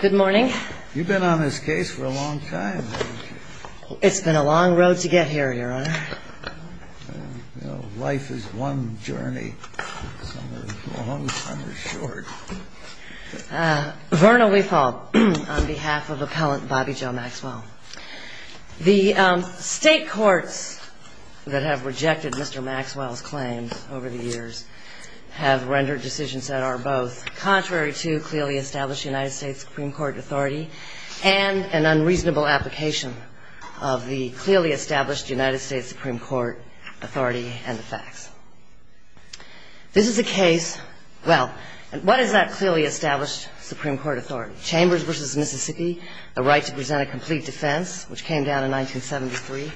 Good morning. You've been on this case for a long time, haven't you? It's been a long road to get here, Your Honor. You know, life is one journey. Some are long, some are short. Verna Weefal, on behalf of Appellant Bobby Joe Maxwell. The State courts that have rejected Mr. Maxwell's claims over the years have rendered decisions that are both contrary to clearly established United States Supreme Court authority and an unreasonable application of the clearly established United States Supreme Court authority and the facts. This is a case, well, what is that clearly established Supreme Court authority? Chambers v. Mississippi, the right to present a complete defense, which came down in 1973.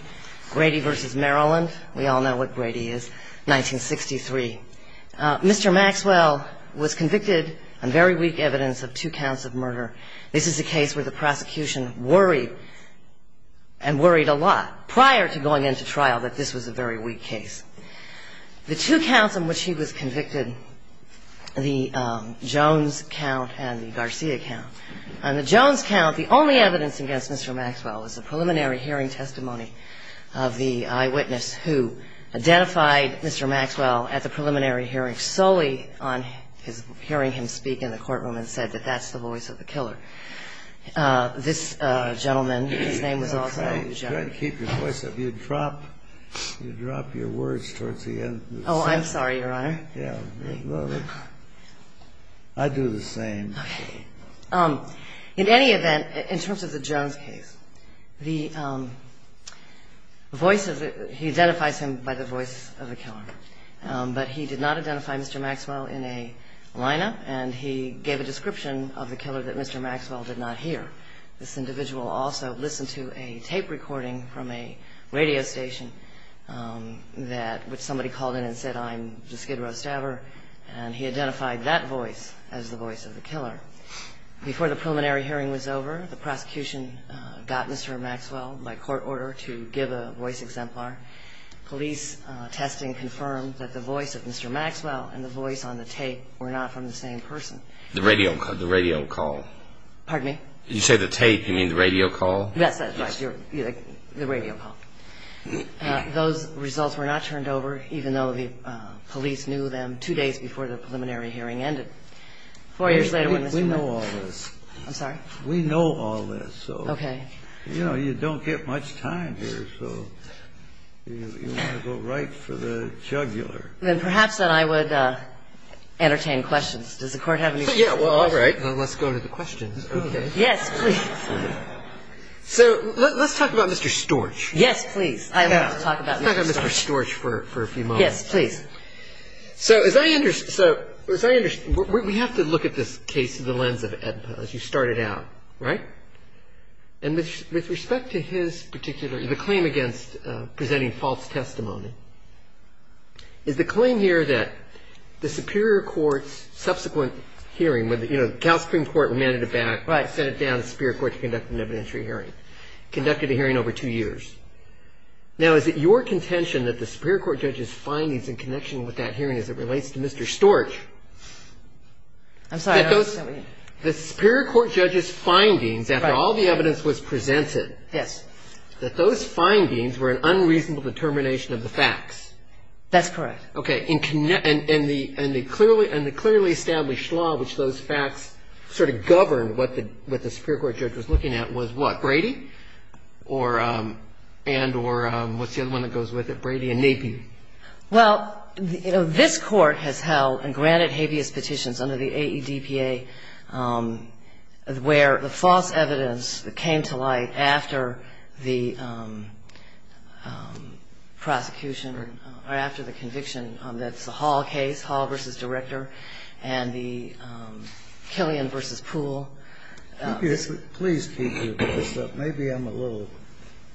Grady v. Maryland, we all know what Grady is, 1963. Mr. Maxwell was convicted on very weak evidence of two counts of murder. This is a case where the prosecution worried and worried a lot prior to going into trial that this was a very weak case. The two counts in which he was convicted, the Jones count and the Garcia count. On the Jones count, the only evidence against Mr. Maxwell is a preliminary hearing testimony of the eyewitness who identified Mr. Maxwell at the preliminary hearing solely on hearing him speak in the courtroom and said that that's the voice of the killer. This gentleman, his name was also Joe. Kennedy. Try to keep your voice up. You drop your words towards the end. Weefal. Oh, I'm sorry, Your Honor. Kennedy. I do the same. Weefal. In any event, in terms of the Jones case, he identifies him by the voice of the killer. But he did not identify Mr. Maxwell in a lineup, and he gave a description of the killer that Mr. Maxwell did not hear. This individual also listened to a tape recording from a radio station, which somebody called in and said, I'm the Skid Row Stabber, and he identified that voice as the voice of the killer. Before the preliminary hearing was over, the prosecution got Mr. Maxwell, by court order, to give a voice exemplar. Police testing confirmed that the voice of Mr. Maxwell and the voice on the tape were not from the same person. The radio call. Pardon me? You say the tape. You mean the radio call? Yes, that's right. The radio call. Those results were not turned over, even though the police knew them two days before the preliminary hearing ended. Four years later, when Mr. Maxwell. We know all this. I'm sorry? We know all this, so. Okay. You know, you don't get much time here, so you want to go right for the jugular. Then perhaps then I would entertain questions. Does the Court have any questions? Yeah, well, all right. Let's go to the questions. Okay. Yes, please. So let's talk about Mr. Storch. Yes, please. I want to talk about Mr. Storch. Let's talk about Mr. Storch for a few moments. Yes, please. So as I understand, we have to look at this case through the lens of Ed Powell, as you started out, right? And with respect to his particular claim against presenting false testimony, is the claim here that the Superior Court's subsequent hearing, you know, the Cal Supreme Court remanded it back. Right. I sent it down to the Superior Court to conduct an evidentiary hearing. Conducted a hearing over two years. Now, is it your contention that the Superior Court judge's findings in connection with that hearing as it relates to Mr. Storch? I'm sorry. The Superior Court judge's findings, after all the evidence was presented, that those findings were an unreasonable determination of the facts. That's correct. Okay. And the clearly established law which those facts sort of governed what the Superior Court judge was looking at was what? Brady? And or what's the other one that goes with it? Brady and Napier? Well, you know, this Court has held and granted habeas petitions under the AEDPA where the false evidence that came to light after the prosecution or after the conviction that's the Hall case, Hall v. Director, and the Killian v. Poole. Please keep your voice up. Maybe I'm a little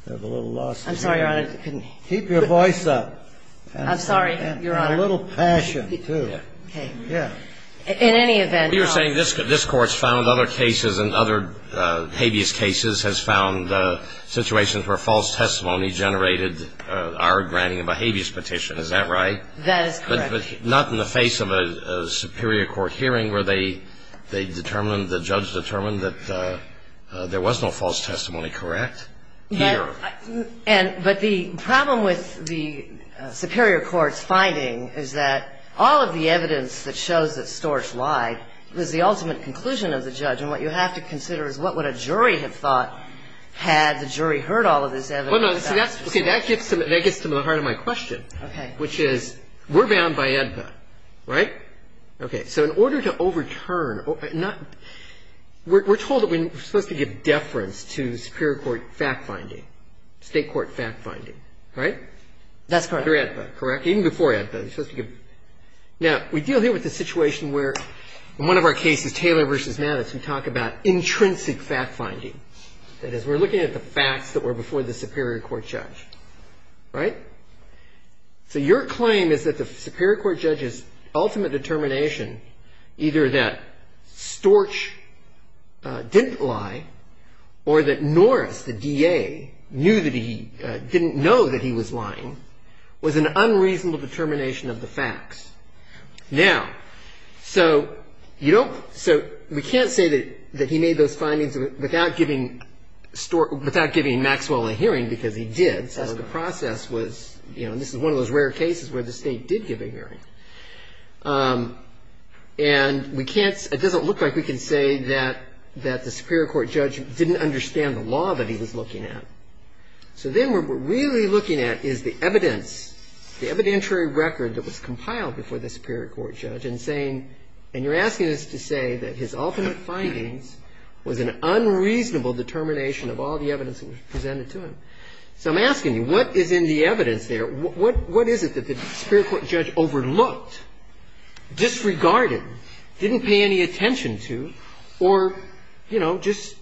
lost. I'm sorry, Your Honor. Keep your voice up. I'm sorry, Your Honor. And a little passion, too. Okay. Yeah. In any event, Your Honor. You're saying this Court's found other cases and other habeas cases has found situations where false testimony generated our granting of a habeas petition. Is that right? That is correct. But not in the face of a Superior Court hearing where they determined, the judge determined that there was no false testimony, correct? But the problem with the Superior Court's finding is that all of the evidence that shows that Storch lied was the ultimate conclusion of the judge. And what you have to consider is what would a jury have thought had the jury heard all of this evidence? Well, no. See, that gets to the heart of my question. Okay. Which is we're bound by AEDPA, right? Okay. So in order to overturn, we're told that we're supposed to give deference to Superior Court fact-finding, State Court fact-finding, right? That's correct. Under AEDPA, correct? Even before AEDPA, you're supposed to give. Now, we deal here with a situation where in one of our cases, Taylor v. Maddox, we talk about intrinsic fact-finding. That is, we're looking at the facts that were before the Superior Court judge, right? So your claim is that the Superior Court judge's ultimate determination, either that Storch didn't lie or that Norris, the DA, knew that he didn't know that he was lying, was an unreasonable determination of the facts. Now, so you don't – so we can't say that he made those findings without giving Storch – you know, this is one of those rare cases where the State did give a hearing. And we can't – it doesn't look like we can say that the Superior Court judge didn't understand the law that he was looking at. So then what we're really looking at is the evidence, the evidentiary record that was compiled before the Superior Court judge and saying – and you're asking us to say that his ultimate findings was an unreasonable determination of all the evidence that was presented to him. So I'm asking you, what is in the evidence there? What is it that the Superior Court judge overlooked, disregarded, didn't pay any attention to, or, you know, just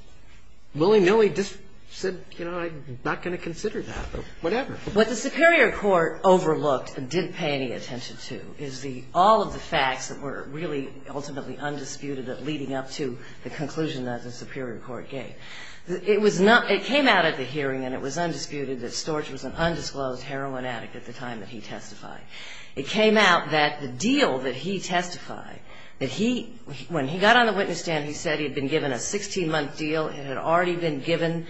willy-nilly just said, you know, I'm not going to consider that, or whatever? What the Superior Court overlooked and didn't pay any attention to is the – all of the facts that were really ultimately undisputed leading up to the conclusion that the Superior Court gave. It was not – it came out at the hearing, and it was undisputed, that Storch was an undisclosed heroin addict at the time that he testified. It came out that the deal that he testified, that he – when he got on the witness stand, he said he had been given a 16-month deal. It had already been given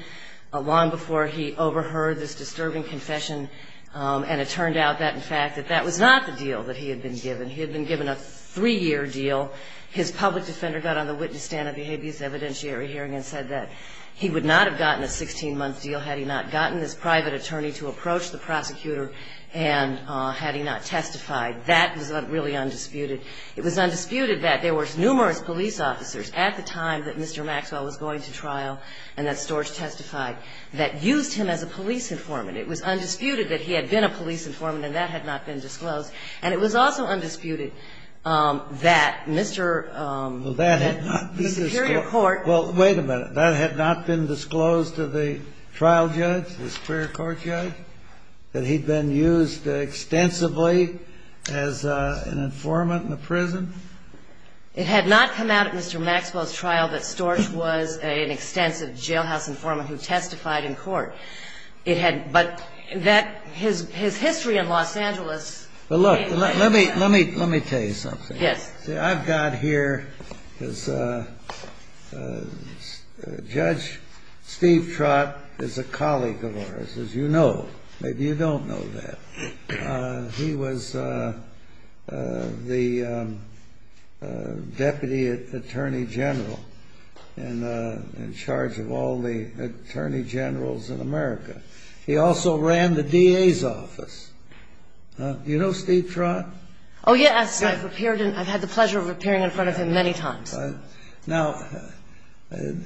long before he overheard this disturbing confession, and it turned out that, in fact, that that was not the deal that he had been given. He had been given a three-year deal. His public defender got on the witness stand at the habeas evidentiary hearing and said that he would not have gotten a 16-month deal had he not gotten this private attorney to approach the prosecutor and had he not testified. That was really undisputed. It was undisputed that there were numerous police officers at the time that Mr. Maxwell was going to trial and that Storch testified that used him as a police informant. It was undisputed that he had been a police informant, and that had not been disclosed. And it was also undisputed that Mr. Superior Court – Well, wait a minute. That had not been disclosed to the trial judge, the superior court judge, that he had been used extensively as an informant in the prison? It had not come out at Mr. Maxwell's trial that Storch was an extensive jailhouse informant who testified in court. It had – but that – his history in Los Angeles – Well, look, let me tell you something. Yes. See, I've got here this – Judge Steve Trott is a colleague of ours, as you know. Maybe you don't know that. He was the deputy attorney general in charge of all the attorney generals in America. He also ran the DA's office. Do you know Steve Trott? Oh, yes. I've appeared in – I've had the pleasure of appearing in front of him many times. Now,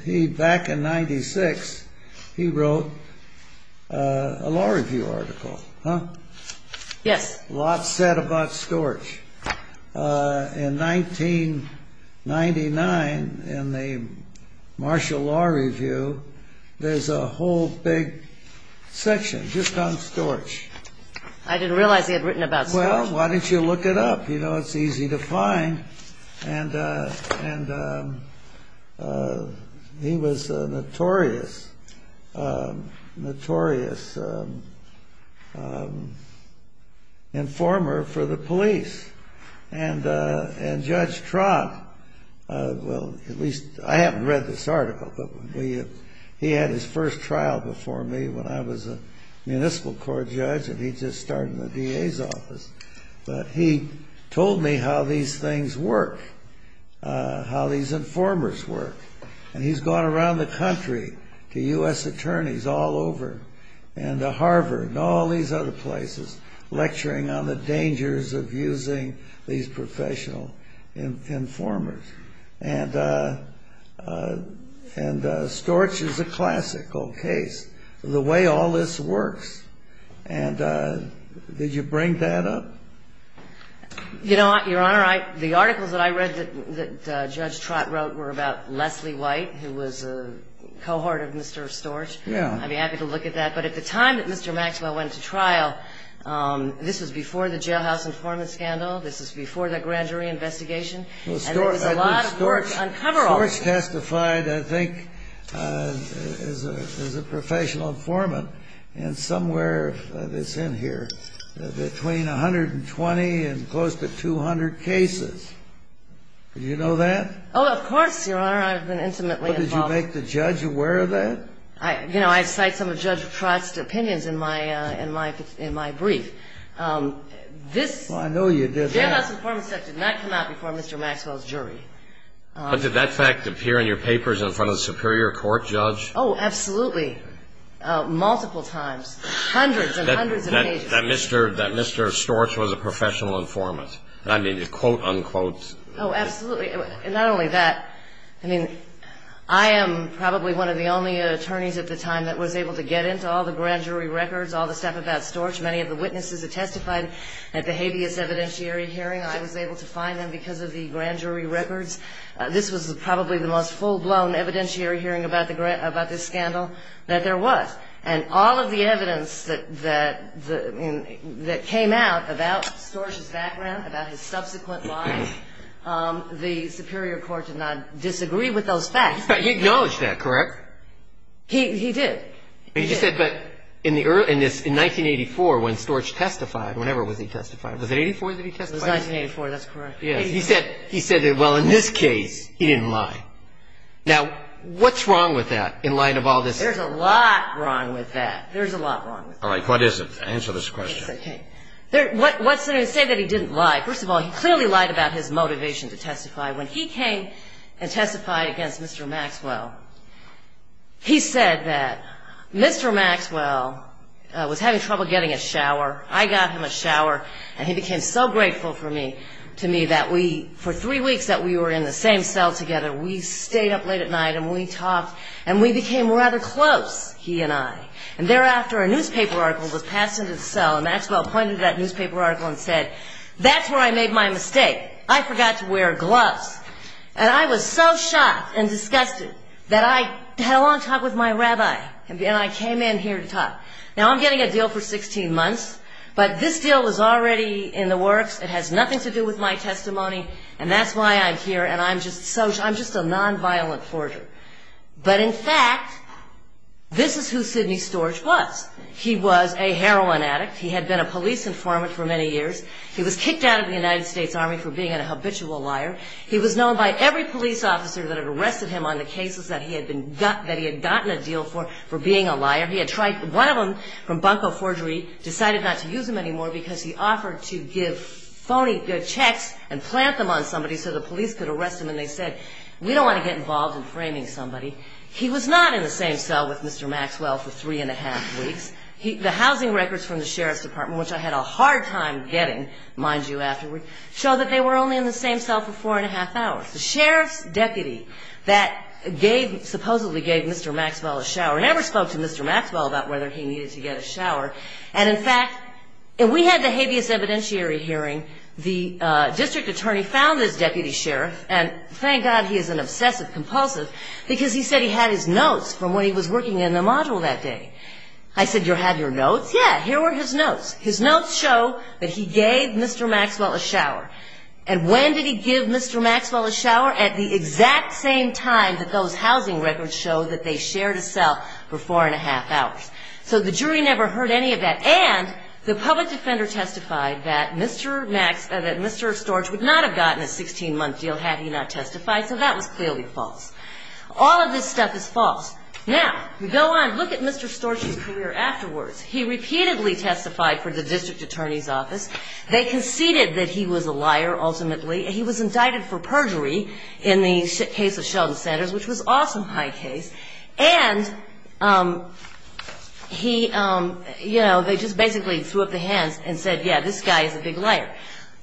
he – back in 1996, he wrote a law review article, huh? Yes. A lot said about Storch. In 1999, in the Marshall Law Review, there's a whole big section just on Storch. I didn't realize he had written about Storch. Well, why don't you look it up? You know, it's easy to find. And he was a notorious, notorious informer for the police. And Judge Trott – well, at least – I haven't read this article, but he had his first trial before me when I was a municipal court judge, and he'd just started in the DA's office. But he told me how these things work, how these informers work. And he's gone around the country to U.S. attorneys all over and to Harvard and all these other places lecturing on the dangers of using these professional informers. And Storch is a classical case. The way all this works. And did you bring that up? You know what, Your Honor? The articles that I read that Judge Trott wrote were about Leslie White, who was a cohort of Mr. Storch. Yeah. I'd be happy to look at that. But at the time that Mr. Maxwell went to trial, this was before the jailhouse informant scandal. This was before the grand jury investigation. And there was a lot of work on coveralls. Storch testified, I think, as a professional informant, and somewhere that's in here, between 120 and close to 200 cases. Did you know that? Oh, of course, Your Honor. I've been intimately involved. But did you make the judge aware of that? You know, I cite some of Judge Trott's opinions in my brief. Well, I know you did that. This jailhouse informant stuff did not come out before Mr. Maxwell's jury. But did that fact appear in your papers in front of the superior court judge? Oh, absolutely. Multiple times. Hundreds and hundreds of pages. That Mr. Storch was a professional informant. I mean, quote, unquote. Oh, absolutely. And not only that. I mean, I am probably one of the only attorneys at the time that was able to get into all the grand jury records, all the stuff about Storch. Many of the witnesses that testified at the habeas evidentiary hearing, I was able to find them because of the grand jury records. This was probably the most full-blown evidentiary hearing about this scandal that there was. And all of the evidence that came out about Storch's background, about his subsequent life, the superior court did not disagree with those facts. He acknowledged that, correct? He did. He did. He just said, but in 1984, when Storch testified, whenever he testified, was it 1984 that he testified? It was 1984. That's correct. He said that, well, in this case, he didn't lie. Now, what's wrong with that in light of all this? There's a lot wrong with that. There's a lot wrong with that. All right. What is it? Answer this question. What's there to say that he didn't lie? First of all, he clearly lied about his motivation to testify. When he came and testified against Mr. Maxwell, he said that Mr. Maxwell was having trouble getting a shower. I got him a shower, and he became so grateful for me, to me, that we, for three weeks that we were in the same cell together, we stayed up late at night and we talked, and we became rather close, he and I. And thereafter, a newspaper article was passed into the cell, and Maxwell pointed to that newspaper article and said, that's where I made my mistake. I forgot to wear gloves. And I was so shocked and disgusted that I had a long talk with my rabbi, and I came in here to talk. Now, I'm getting a deal for 16 months, but this deal is already in the works. It has nothing to do with my testimony, and that's why I'm here, and I'm just a nonviolent forger. But in fact, this is who Sidney Storch was. He was a heroin addict. He had been a police informant for many years. He was kicked out of the United States Army for being a habitual liar. He was known by every police officer that had arrested him on the cases that he had gotten a deal for for being a liar. One of them from Bunko Forgery decided not to use him anymore because he offered to give phony checks and plant them on somebody so the police could arrest him, and they said, we don't want to get involved in framing somebody. He was not in the same cell with Mr. Maxwell for three and a half weeks. The housing records from the sheriff's department, which I had a hard time getting, mind you, afterward, show that they were only in the same cell for four and a half hours. The sheriff's deputy that supposedly gave Mr. Maxwell a shower never spoke to Mr. Maxwell about whether he needed to get a shower, and in fact, if we had the habeas evidentiary hearing, the district attorney found this deputy sheriff, and thank God he is an obsessive compulsive because he said he had his notes from when he was working in the module that day. I said, you had your notes? Yeah, here were his notes. And when did he give Mr. Maxwell a shower? At the exact same time that those housing records show that they shared a cell for four and a half hours. So the jury never heard any of that, and the public defender testified that Mr. Storch would not have gotten a 16-month deal had he not testified, so that was clearly false. All of this stuff is false. Now, we go on, look at Mr. Storch's career afterwards. He repeatedly testified for the district attorney's office. They conceded that he was a liar, ultimately. He was indicted for perjury in the case of Sheldon Sanders, which was also a high case, and he, you know, they just basically threw up their hands and said, yeah, this guy is a big liar.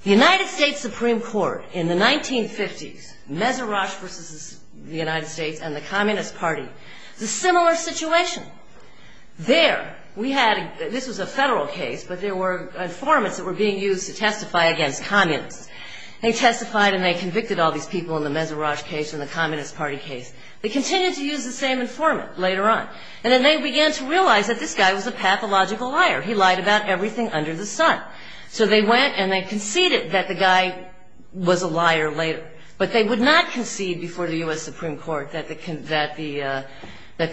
The United States Supreme Court in the 1950s, Mezirash versus the United States and the Communist Party, a similar situation. There, we had, this was a federal case, but there were informants that were being used to testify against communists. They testified and they convicted all these people in the Mezirash case and the Communist Party case. They continued to use the same informant later on, and then they began to realize that this guy was a pathological liar. He lied about everything under the sun. So they went and they conceded that the guy was a liar later, but they would not concede before the U.S. Supreme Court that the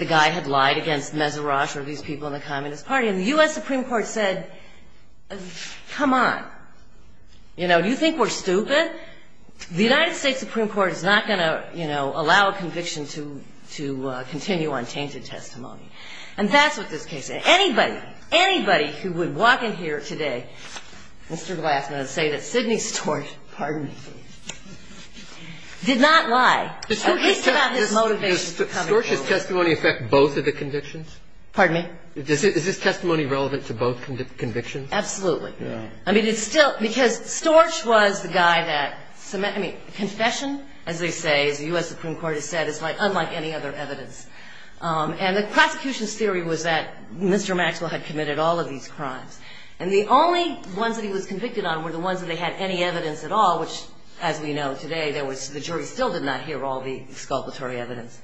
guy had lied against Mezirash or these people in the Communist Party. And the U.S. Supreme Court said, come on. You know, do you think we're stupid? The United States Supreme Court is not going to, you know, allow a conviction to continue on tainted testimony. And that's what this case is. Anybody, anybody who would walk in here today, Mr. Glassman, and say that Sidney Storch, pardon me, did not lie, at least about his motivation. Does Storch's testimony affect both of the convictions? Pardon me? Is his testimony relevant to both convictions? Absolutely. I mean, it's still, because Storch was the guy that, I mean, confession, as they say, as the U.S. Supreme Court has said, is unlike any other evidence. And the prosecution's theory was that Mr. Maxwell had committed all of these crimes. And the only ones that he was convicted on were the ones that they had any evidence at all, which, as we know today, there was, the jury still did not hear all the exculpatory evidence.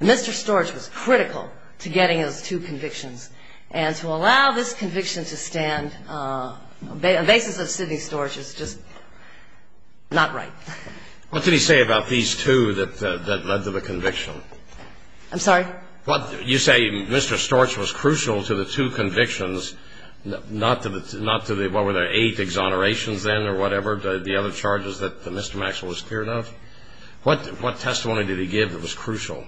Mr. Storch was critical to getting those two convictions. And to allow this conviction to stand on the basis of Sidney Storch is just not right. What did he say about these two that led to the conviction? I'm sorry? You say Mr. Storch was crucial to the two convictions, not to the, what were there, eight exonerations then or whatever, the other charges that Mr. Maxwell was cleared of? What testimony did he give that was crucial?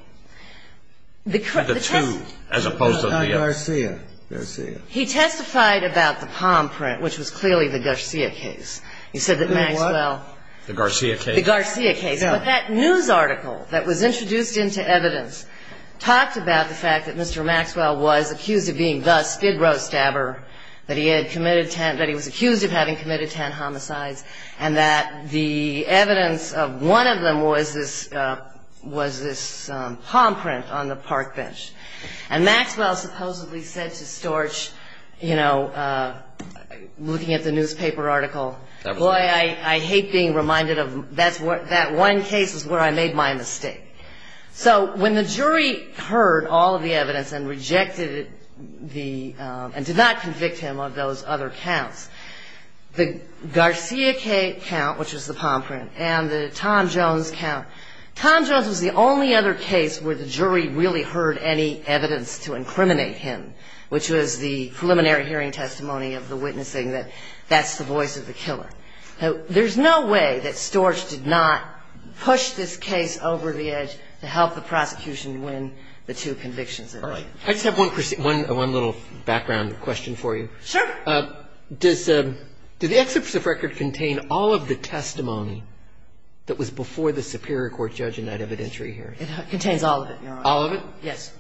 The two, as opposed to the X. Garcia. Garcia. He testified about the palm print, which was clearly the Garcia case. You said that Maxwell. The what? The Garcia case. The Garcia case. But that news article that was introduced into evidence talked about the fact that Mr. Maxwell was accused of being the Spidro stabber, that he was accused of having committed 10 homicides, and that the evidence of one of them was this palm print on the park bench. And Maxwell supposedly said to Storch, you know, looking at the newspaper article, boy, I hate being reminded of that one case is where I made my mistake. So when the jury heard all of the evidence and rejected it and did not convict him of those other counts, the Garcia count, which was the palm print, and the Tom Jones count, Tom Jones was the only other case where the jury really heard any evidence to incriminate him, which was the preliminary hearing testimony of the witness saying that that's the voice of the killer. There's no way that Storch did not push this case over the edge to help the prosecution win the two convictions. All right. I just have one little background question for you. Sure. Does the exception of record contain all of the testimony that was before the superior court judge in that evidentiary hearing? It contains all of it, Your Honor. All of it? Yes.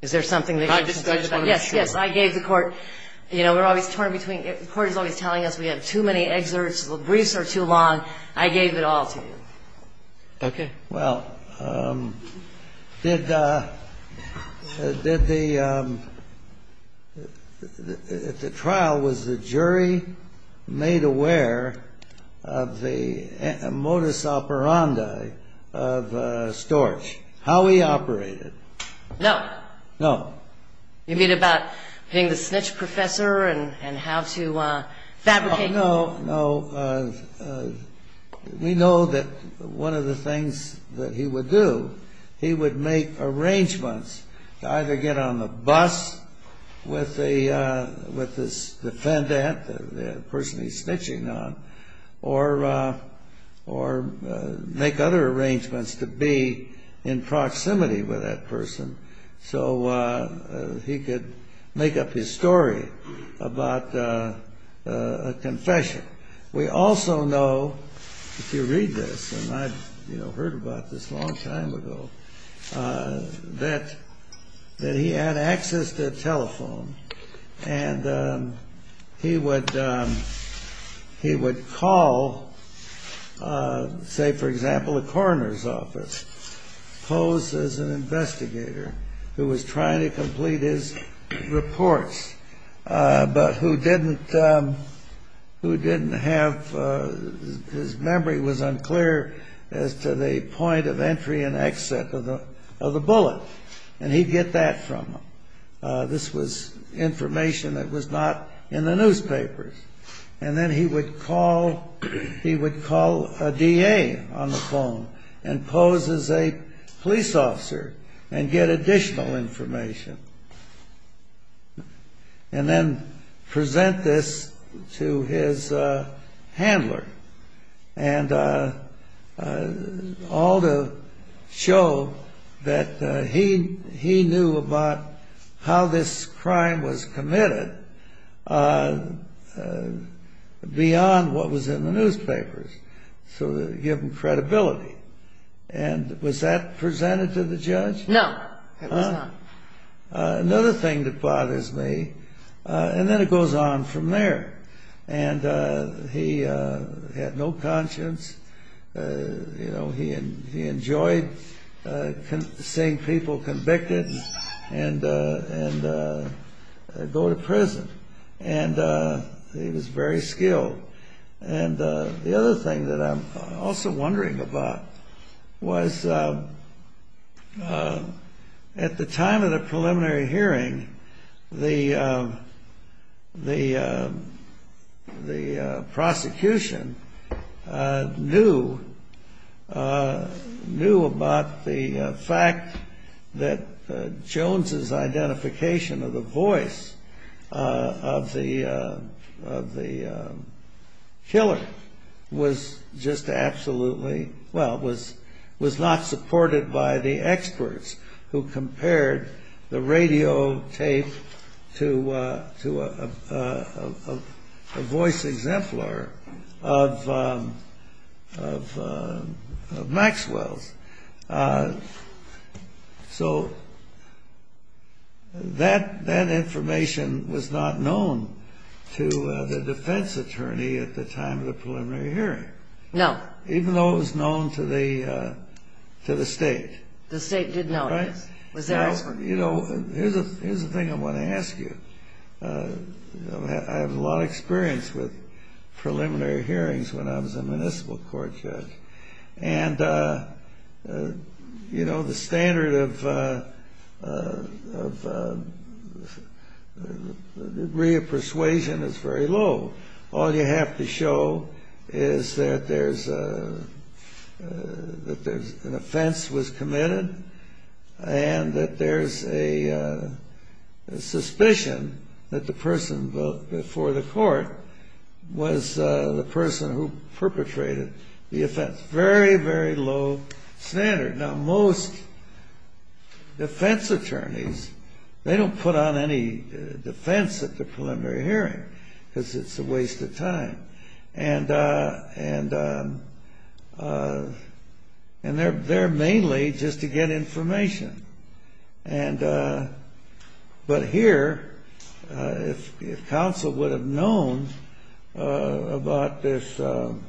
Is there something that you're not sure about? Yes, yes. I gave the court, you know, we're always torn between the court is always telling us we have too many excerpts, the briefs are too long. I gave it all to you. Okay. Well, did the trial, was the jury made aware of the modus operandi of Storch, how he operated? No. No. You mean about being the snitch professor and how to fabricate? No, no. We know that one of the things that he would do, he would make arrangements to either get on the bus with the defendant, the person he's snitching on, or make other arrangements to be in proximity with that person so he could make up his story about a confession. We also know, if you read this, and I heard about this a long time ago, that he had access to a telephone and he would call, say, for example, the coroner's office, posed as an investigator who was trying to complete his reports, but who didn't have, his memory was unclear as to the point of entry and exit of the bullet, and he'd get that from them. This was information that was not in the newspapers. And then he would call a DA on the phone and pose as a police officer and get additional information and then present this to his handler, and all to show that he knew about how this crime was committed beyond what was in the newspapers to give him credibility. And was that presented to the judge? No, it was not. Another thing that bothers me, and then it goes on from there, and he had no conscience, he enjoyed seeing people convicted and go to prison, and he was very skilled. And the other thing that I'm also wondering about was at the time of the preliminary hearing, the prosecution knew about the fact that Jones' identification of the voice of the killer was just absolutely, well, was not supported by the experts who compared the radio tape to a voice exemplar of Maxwell's. So that information was not known to the defense attorney at the time of the preliminary hearing. No. Even though it was known to the state. The state did not. You know, here's the thing I want to ask you. I have a lot of experience with preliminary hearings when I was a municipal court judge. And, you know, the standard of degree of persuasion is very low. All you have to show is that there's an offense was committed and that there's a suspicion that the person before the court was the person who perpetrated the offense. Very, very low standard. Now, most defense attorneys, they don't put on any defense at the preliminary hearing because it's a waste of time. And they're mainly just to get information. But here, if counsel would have known about this, the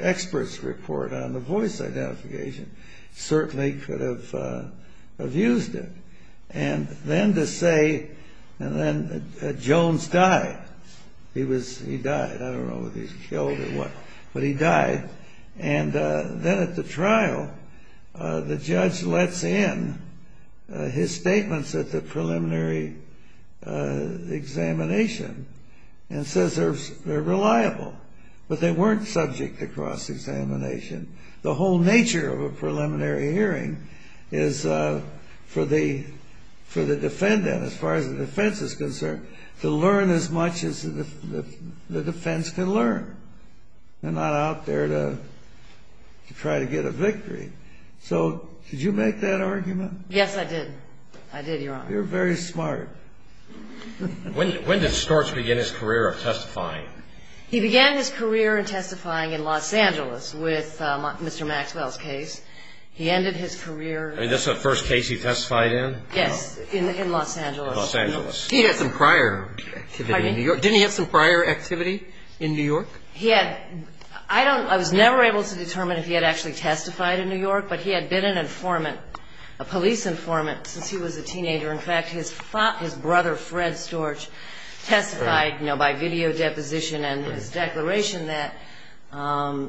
experts report on the voice identification certainly could have used it. And then to say, and then Jones died. He died. I don't know if he was killed or what. But he died. And then at the trial, the judge lets in his statements at the preliminary examination and says they're reliable. But they weren't subject to cross-examination. The whole nature of a preliminary hearing is for the defendant, as far as the defense is concerned, to learn as much as the defense can learn. They're not out there to try to get a victory. So did you make that argument? Yes, I did. I did, Your Honor. You're very smart. When did Storch begin his career of testifying? He began his career in testifying in Los Angeles with Mr. Maxwell's case. He ended his career. I mean, that's the first case he testified in? Yes, in Los Angeles. Los Angeles. He had some prior activity in New York. I was never able to determine if he had actually testified in New York. But he had been an informant, a police informant, since he was a teenager. In fact, his brother, Fred Storch, testified by video deposition and his declaration that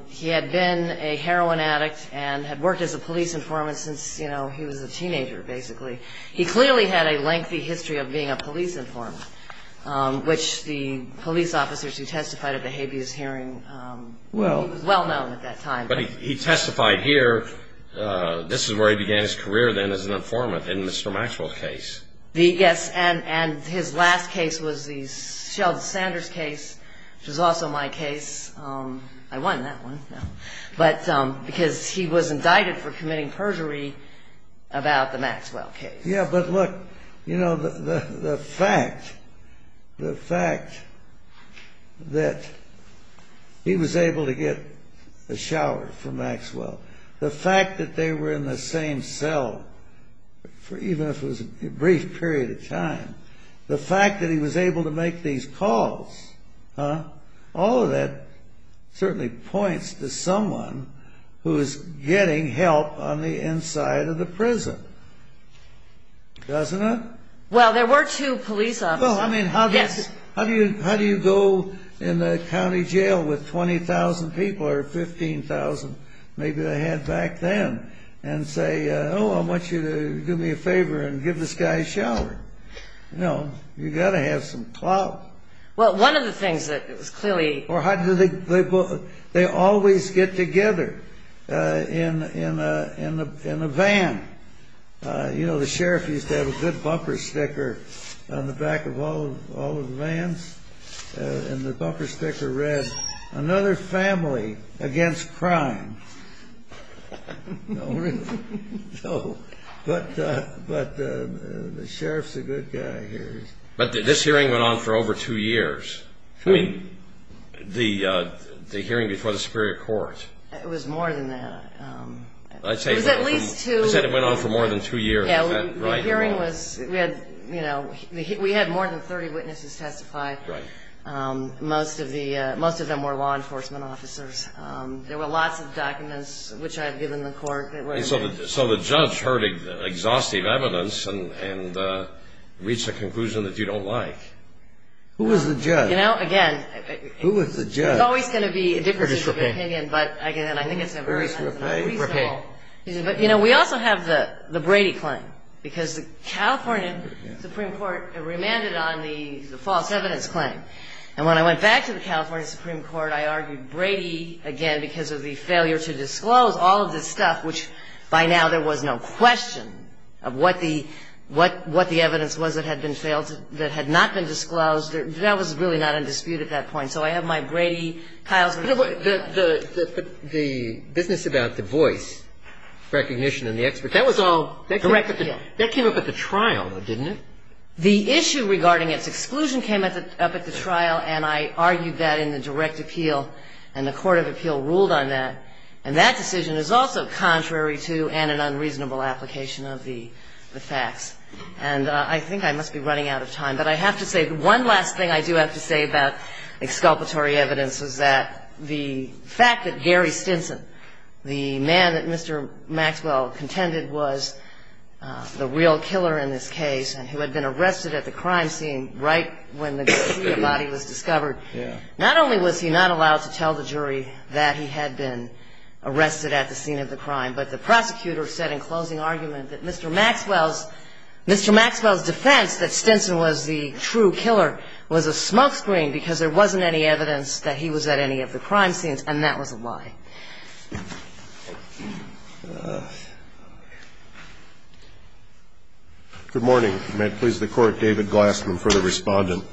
he had been a heroin addict and had worked as a police informant since he was a teenager, basically. He clearly had a lengthy history of being a police informant, which the police officers who testified at the habeas hearing, he was well-known at that time. But he testified here. This is where he began his career then as an informant, in Mr. Maxwell's case. Yes, and his last case was the Sheldon Sanders case, which was also my case. I won that one. But because he was indicted for committing perjury about the Maxwell case. Yes, but look, you know, the fact that he was able to get a shower from Maxwell, the fact that they were in the same cell, even if it was a brief period of time, the fact that he was able to make these calls, all of that certainly points to someone who is getting help on the inside of the prison, doesn't it? Well, there were two police officers. Well, I mean, how do you go in the county jail with 20,000 people or 15,000 maybe they had back then and say, oh, I want you to do me a favor and give this guy a shower. You know, you've got to have some clout. Well, one of the things that was clearly – Or how do they – they always get together in a van. You know, the sheriff used to have a good bumper sticker on the back of all of the vans, and the bumper sticker read, another family against crime. But the sheriff's a good guy here. But this hearing went on for over two years. I mean, the hearing before the Superior Court. It was more than that. It was at least two. You said it went on for more than two years. Yeah, the hearing was – we had more than 30 witnesses testify. Most of them were law enforcement officers. There were lots of documents, which I had given the court. So the judge heard exhaustive evidence and reached a conclusion that you don't like. Who was the judge? You know, again – Who was the judge? There's always going to be differences of opinion, but again, I think it's reasonable. But, you know, we also have the Brady claim, because the California Supreme Court remanded on the false evidence claim. And when I went back to the California Supreme Court, I argued Brady again because of the failure to disclose all of this stuff, which by now there was no question of what the evidence was that had been failed – that had not been disclosed. That was really not in dispute at that point. But the business about the voice recognition and the expert – that was all – Direct appeal. That came up at the trial, though, didn't it? The issue regarding its exclusion came up at the trial, and I argued that in the direct appeal, and the court of appeal ruled on that. And that decision is also contrary to and an unreasonable application of the facts. And I think I must be running out of time. But I have to say, one last thing I do have to say about exculpatory evidence is that the fact that Gary Stinson, the man that Mr. Maxwell contended was the real killer in this case, and who had been arrested at the crime scene right when the body was discovered, not only was he not allowed to tell the jury that he had been arrested at the scene of the crime, but the prosecutor said in closing argument that Mr. Maxwell's – Mr. Maxwell's defense that Stinson was the true killer was a smokescreen, because there wasn't any evidence that he was at any of the crime scenes, and that was a lie. Good morning. May it please the Court. David Glassman for the Respondent.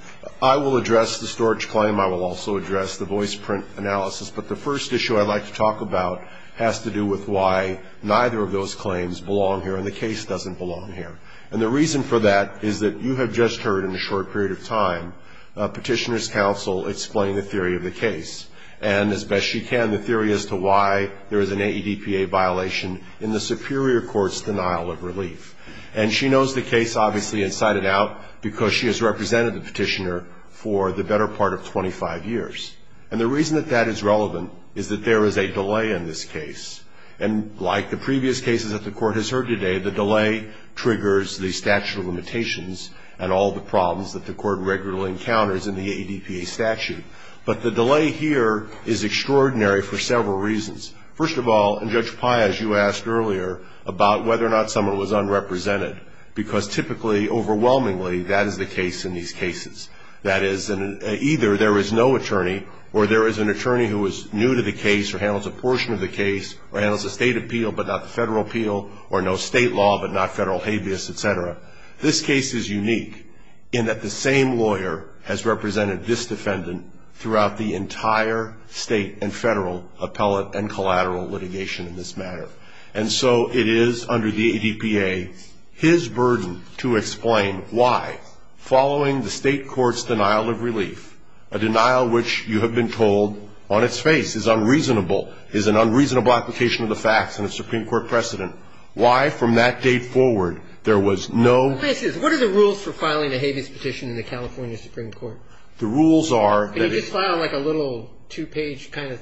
I will address the storage claim. I will also address the voice print analysis. But the first issue I'd like to talk about has to do with why neither of those claims belong here and the case doesn't belong here. And the reason for that is that you have just heard in a short period of time Petitioner's counsel explain the theory of the case, and as best she can, the theory as to why there is an AEDPA violation in the superior court's denial of relief. And she knows the case, obviously, inside and out, because she has represented the petitioner for the better part of 25 years. And the reason that that is relevant is that there is a delay in this case. And like the previous cases that the Court has heard today, the delay triggers the statute of limitations and all the problems that the Court regularly encounters in the AEDPA statute. But the delay here is extraordinary for several reasons. First of all, and Judge Pai, as you asked earlier, about whether or not someone was unrepresented, because typically, overwhelmingly, that is the case in these cases. That is, either there is no attorney or there is an attorney who is new to the case or handles a portion of the case or handles a state appeal but not the federal appeal or no state law but not federal habeas, et cetera. This case is unique in that the same lawyer has represented this defendant throughout the entire state and federal appellate and collateral litigation in this matter. And so it is under the AEDPA his burden to explain why, following the state court's denial of relief, a denial which you have been told on its face is unreasonable, is an unreasonable application of the facts and a Supreme Court precedent, why from that date forward there was no ---- What are the rules for filing a habeas petition in the California Supreme Court? The rules are that it's ---- Can you just file like a little two-page kind of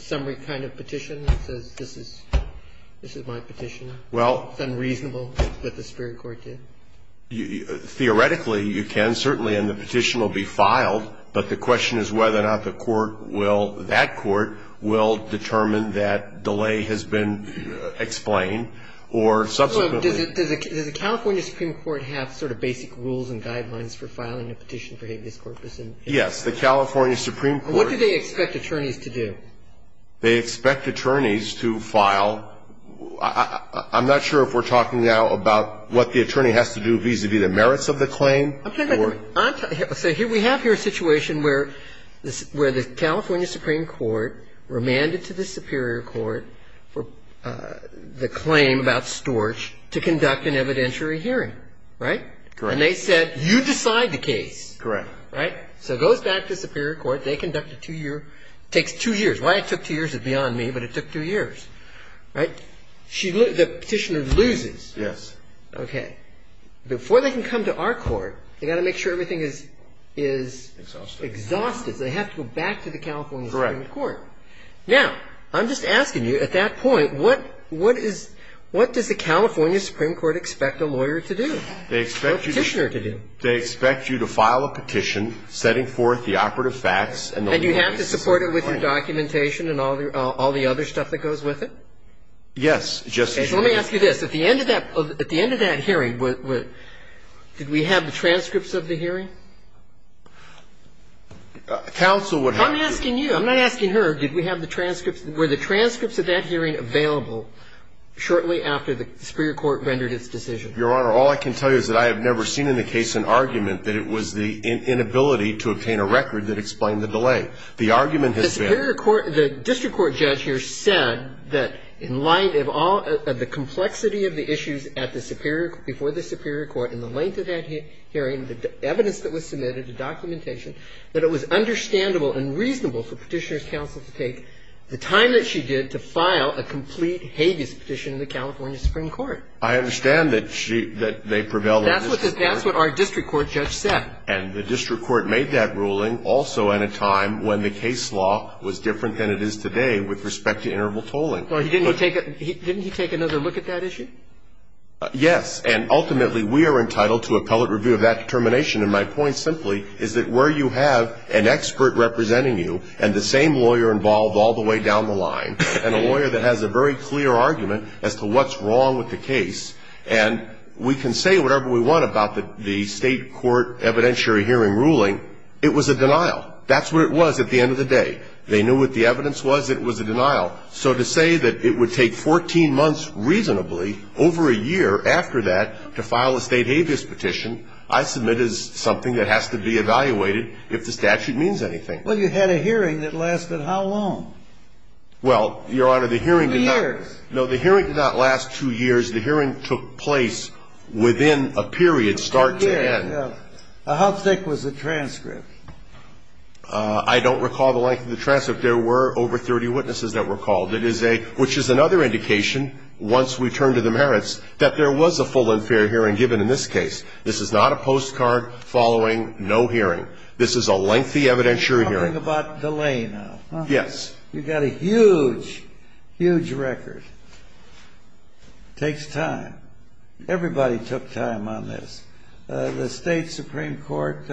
summary kind of petition that says this is my petition? Well ---- It's unreasonable, but the Supreme Court did. Theoretically, you can certainly and the petition will be filed, but the question is whether or not the court will, that court, will determine that delay has been explained or subsequently ---- So does the California Supreme Court have sort of basic rules and guidelines for filing a petition for habeas corpus? Yes. The California Supreme Court ---- What do they expect attorneys to do? They expect attorneys to file ---- I'm not sure if we're talking now about what the attorney has to do vis-à-vis the merits of the claim or ---- I'm talking about the ---- So here we have here a situation where the California Supreme Court remanded to the Superior Court the claim about Storch to conduct an evidentiary hearing. Right? Correct. And they said you decide the case. Correct. Right? So it goes back to the Superior Court. They conduct a two-year ---- It takes two years. Why it took two years is beyond me, but it took two years. Right? So the petitioner loses. Yes. Okay. Before they can come to our court, they've got to make sure everything is ---- Exhausted. Exhausted, so they have to go back to the California Supreme Court. Correct. Now, I'm just asking you, at that point, what is ---- what does the California Supreme Court expect a lawyer to do or a petitioner to do? They expect you to file a petition setting forth the operative facts and the ---- And you have to support it with your documentation and all the other stuff that goes with it? Yes, Justice Breyer. Let me ask you this. At the end of that hearing, did we have the transcripts of the hearing? Counsel would have to. I'm asking you. I'm not asking her. Did we have the transcripts? Were the transcripts of that hearing available shortly after the Superior Court rendered its decision? Your Honor, all I can tell you is that I have never seen in the case an argument that it was the inability to obtain a record that explained the delay. The argument has been ---- The Superior Court ---- the district court judge here said that in light of all ---- of the complexity of the issues at the Superior ---- before the Superior Court in the length of that hearing, the evidence that was submitted, the documentation, that it was understandable and reasonable for Petitioner's counsel to take the time that she did to file a complete habeas petition in the California Supreme Court. I understand that she ---- that they prevailed on this point. That's what our district court judge said. And the district court made that ruling also at a time when the case law was different than it is today with respect to interval tolling. Didn't he take another look at that issue? Yes. And ultimately, we are entitled to appellate review of that determination. And my point simply is that where you have an expert representing you and the same lawyer involved all the way down the line and a lawyer that has a very clear argument as to what's wrong with the case, and we can say whatever we want about the state court evidentiary hearing ruling, it was a denial. That's what it was at the end of the day. They knew what the evidence was. It was a denial. So to say that it would take 14 months reasonably over a year after that to file a state habeas petition, I submit is something that has to be evaluated if the statute means anything. Well, you had a hearing that lasted how long? Well, Your Honor, the hearing did not ---- Years. No, the hearing did not last two years. The hearing took place within a period start to end. How thick was the transcript? I don't recall the length of the transcript. There were over 30 witnesses that were called, which is another indication once we turn to the merits that there was a full and fair hearing given in this case. This is not a postcard following no hearing. This is a lengthy evidentiary hearing. Something about delay now. Yes. You've got a huge, huge record. It takes time. Everybody took time on this. The State Supreme Court,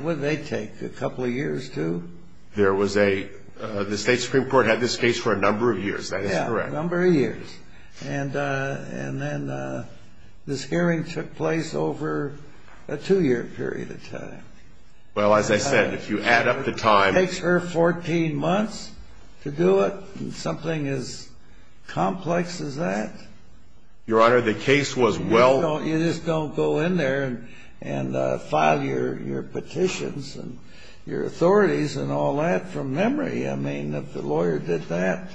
what did they take, a couple of years too? There was a ---- The State Supreme Court had this case for a number of years. That is correct. Yeah, a number of years. And then this hearing took place over a two-year period of time. Well, as I said, if you add up the time ---- It takes her 14 months to do it, something as complex as that. Your Honor, the case was well ---- You just don't go in there and file your petitions and your authorities and all that from memory. I mean, if the lawyer did that,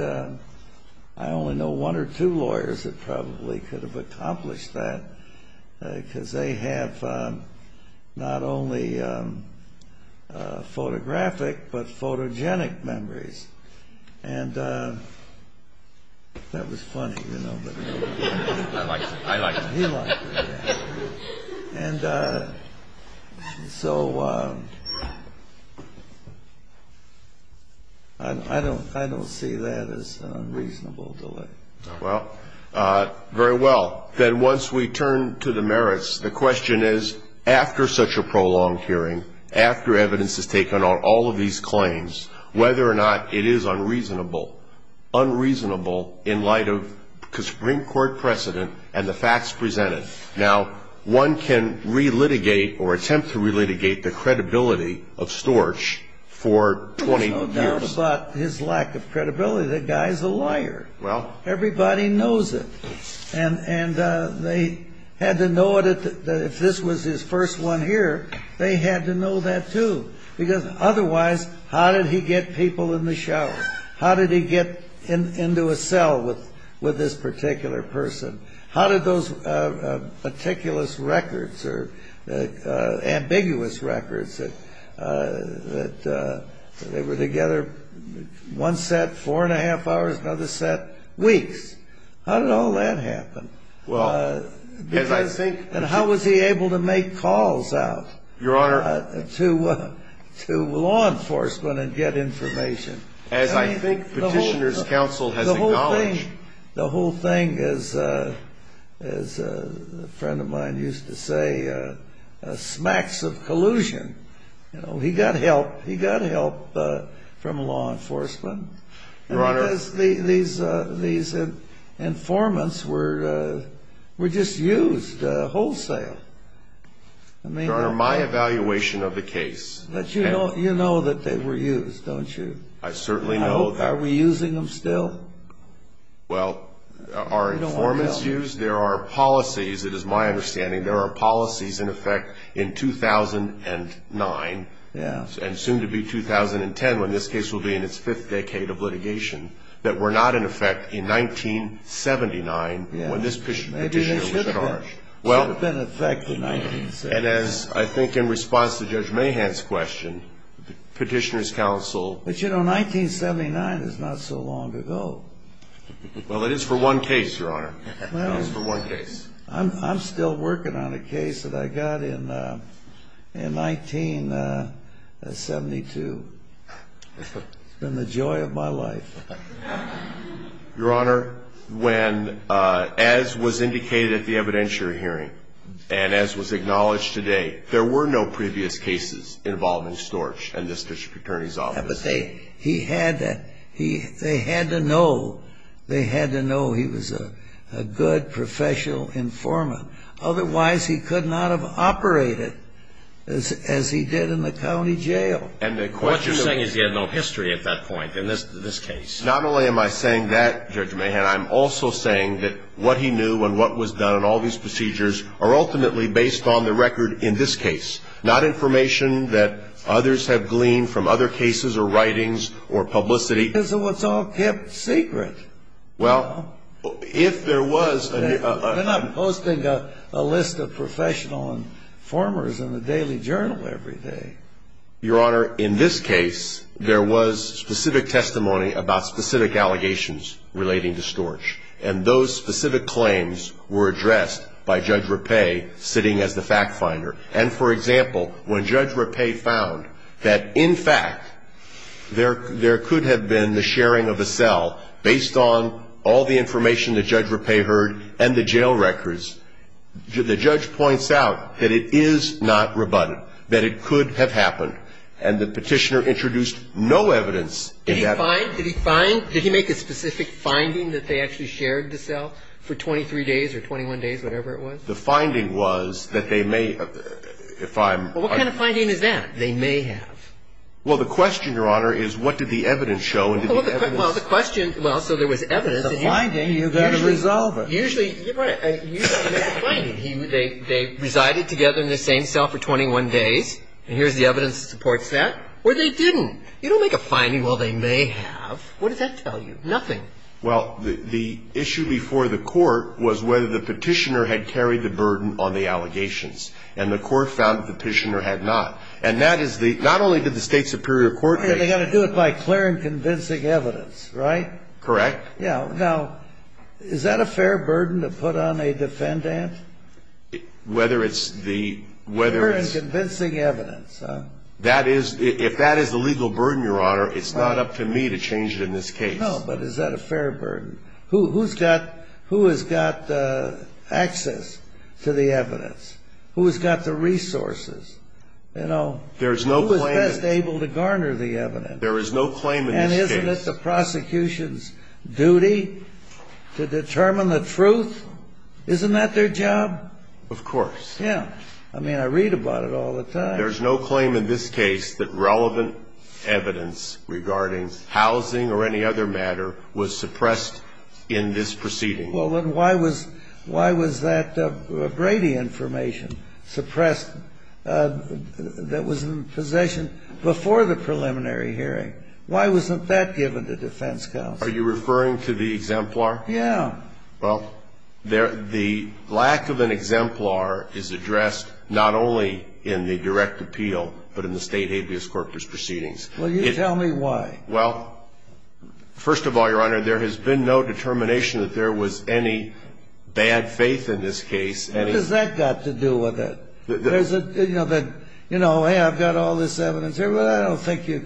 I only know one or two lawyers that probably could have accomplished that because they have not only photographic but photogenic memories. And that was funny, you know. I liked it. He liked it. And so I don't see that as unreasonable delay. Well, very well. Then once we turn to the merits, the question is, after such a prolonged hearing, after evidence is taken on all of these claims, whether or not it is unreasonable, unreasonable in light of the Supreme Court precedent and the facts presented. Now, one can relitigate or attempt to relitigate the credibility of Storch for 20 years. But his lack of credibility, the guy is a liar. Everybody knows it. And they had to know that if this was his first one here, they had to know that, too. Because otherwise, how did he get people in the shower? How did he get into a cell with this particular person? How did those meticulous records or ambiguous records that they were together, one set four and a half hours, another set weeks, how did all that happen? And how was he able to make calls out to law enforcement and get information? As I think Petitioner's Counsel has acknowledged. I think the whole thing, as a friend of mine used to say, smacks of collusion. He got help. He got help from law enforcement. Your Honor. Because these informants were just used wholesale. Your Honor, my evaluation of the case. You know that they were used, don't you? I certainly know that. Are we using them still? Well, are informants used? There are policies, it is my understanding, there are policies in effect in 2009. Yeah. And soon to be 2010 when this case will be in its fifth decade of litigation, that were not in effect in 1979 when this Petitioner was at large. Well. Should have been in effect in 1979. And as I think in response to Judge Mahan's question, Petitioner's Counsel. But, you know, 1979 is not so long ago. Well, it is for one case, Your Honor. It is for one case. I'm still working on a case that I got in 1972. It's been the joy of my life. Your Honor, when, as was indicated at the evidentiary hearing, and as was acknowledged today, there were no previous cases involving Storch in this district attorney's office. Yeah, but they had to know. They had to know he was a good professional informant. Otherwise he could not have operated as he did in the county jail. What you're saying is he had no history at that point in this case. Not only am I saying that, Judge Mahan, I'm also saying that what he knew and what was done in all these procedures are ultimately based on the record in this case, not information that others have gleaned from other cases or writings or publicity. This is what's all kept secret. Well, if there was a... They're not posting a list of professional informers in the Daily Journal every day. Your Honor, in this case, there was specific testimony about specific allegations relating to Storch. And those specific claims were addressed by Judge Rapay sitting as the fact finder. And, for example, when Judge Rapay found that, in fact, there could have been the sharing of a cell based on all the information that Judge Rapay heard and the jail records, the judge points out that it is not rebutted, that it could have happened. And the Petitioner introduced no evidence in that... Did he find? Did he make a specific finding that they actually shared the cell for 23 days or 21 days, whatever it was? The finding was that they may, if I'm... Well, what kind of finding is that? They may have. Well, the question, Your Honor, is what did the evidence show and did the evidence... Well, the question... Well, so there was evidence... It's a finding. You've got to resolve it. Usually... Usually there's a finding. They resided together in the same cell for 21 days. And here's the evidence that supports that. Or they didn't. You don't make a finding, well, they may have. What does that tell you? Nothing. Well, the issue before the court was whether the Petitioner had carried the burden on the allegations. And the court found that the Petitioner had not. And that is the... Not only did the State Superior Court... They've got to do it by clear and convincing evidence, right? Correct. Yeah. Now, is that a fair burden to put on a defendant? Whether it's the... Clear and convincing evidence, huh? If that is the legal burden, Your Honor, it's not up to me to change it in this case. No, but is that a fair burden? Who has got access to the evidence? Who has got the resources? There is no claim... Who is best able to garner the evidence? There is no claim in this case. And isn't it the prosecution's duty to determine the truth? Isn't that their job? Of course. Yeah. I mean, I read about it all the time. There is no claim in this case that relevant evidence regarding housing or any other matter was suppressed in this proceeding. Well, then why was that Brady information suppressed that was in possession before the preliminary hearing? Why wasn't that given to defense counsel? Are you referring to the exemplar? Yeah. Well, the lack of an exemplar is addressed not only in the direct appeal, but in the state habeas corpus proceedings. Well, you tell me why. Well, first of all, Your Honor, there has been no determination that there was any bad faith in this case. What does that got to do with it? You know, hey, I've got all this evidence here, but I don't think it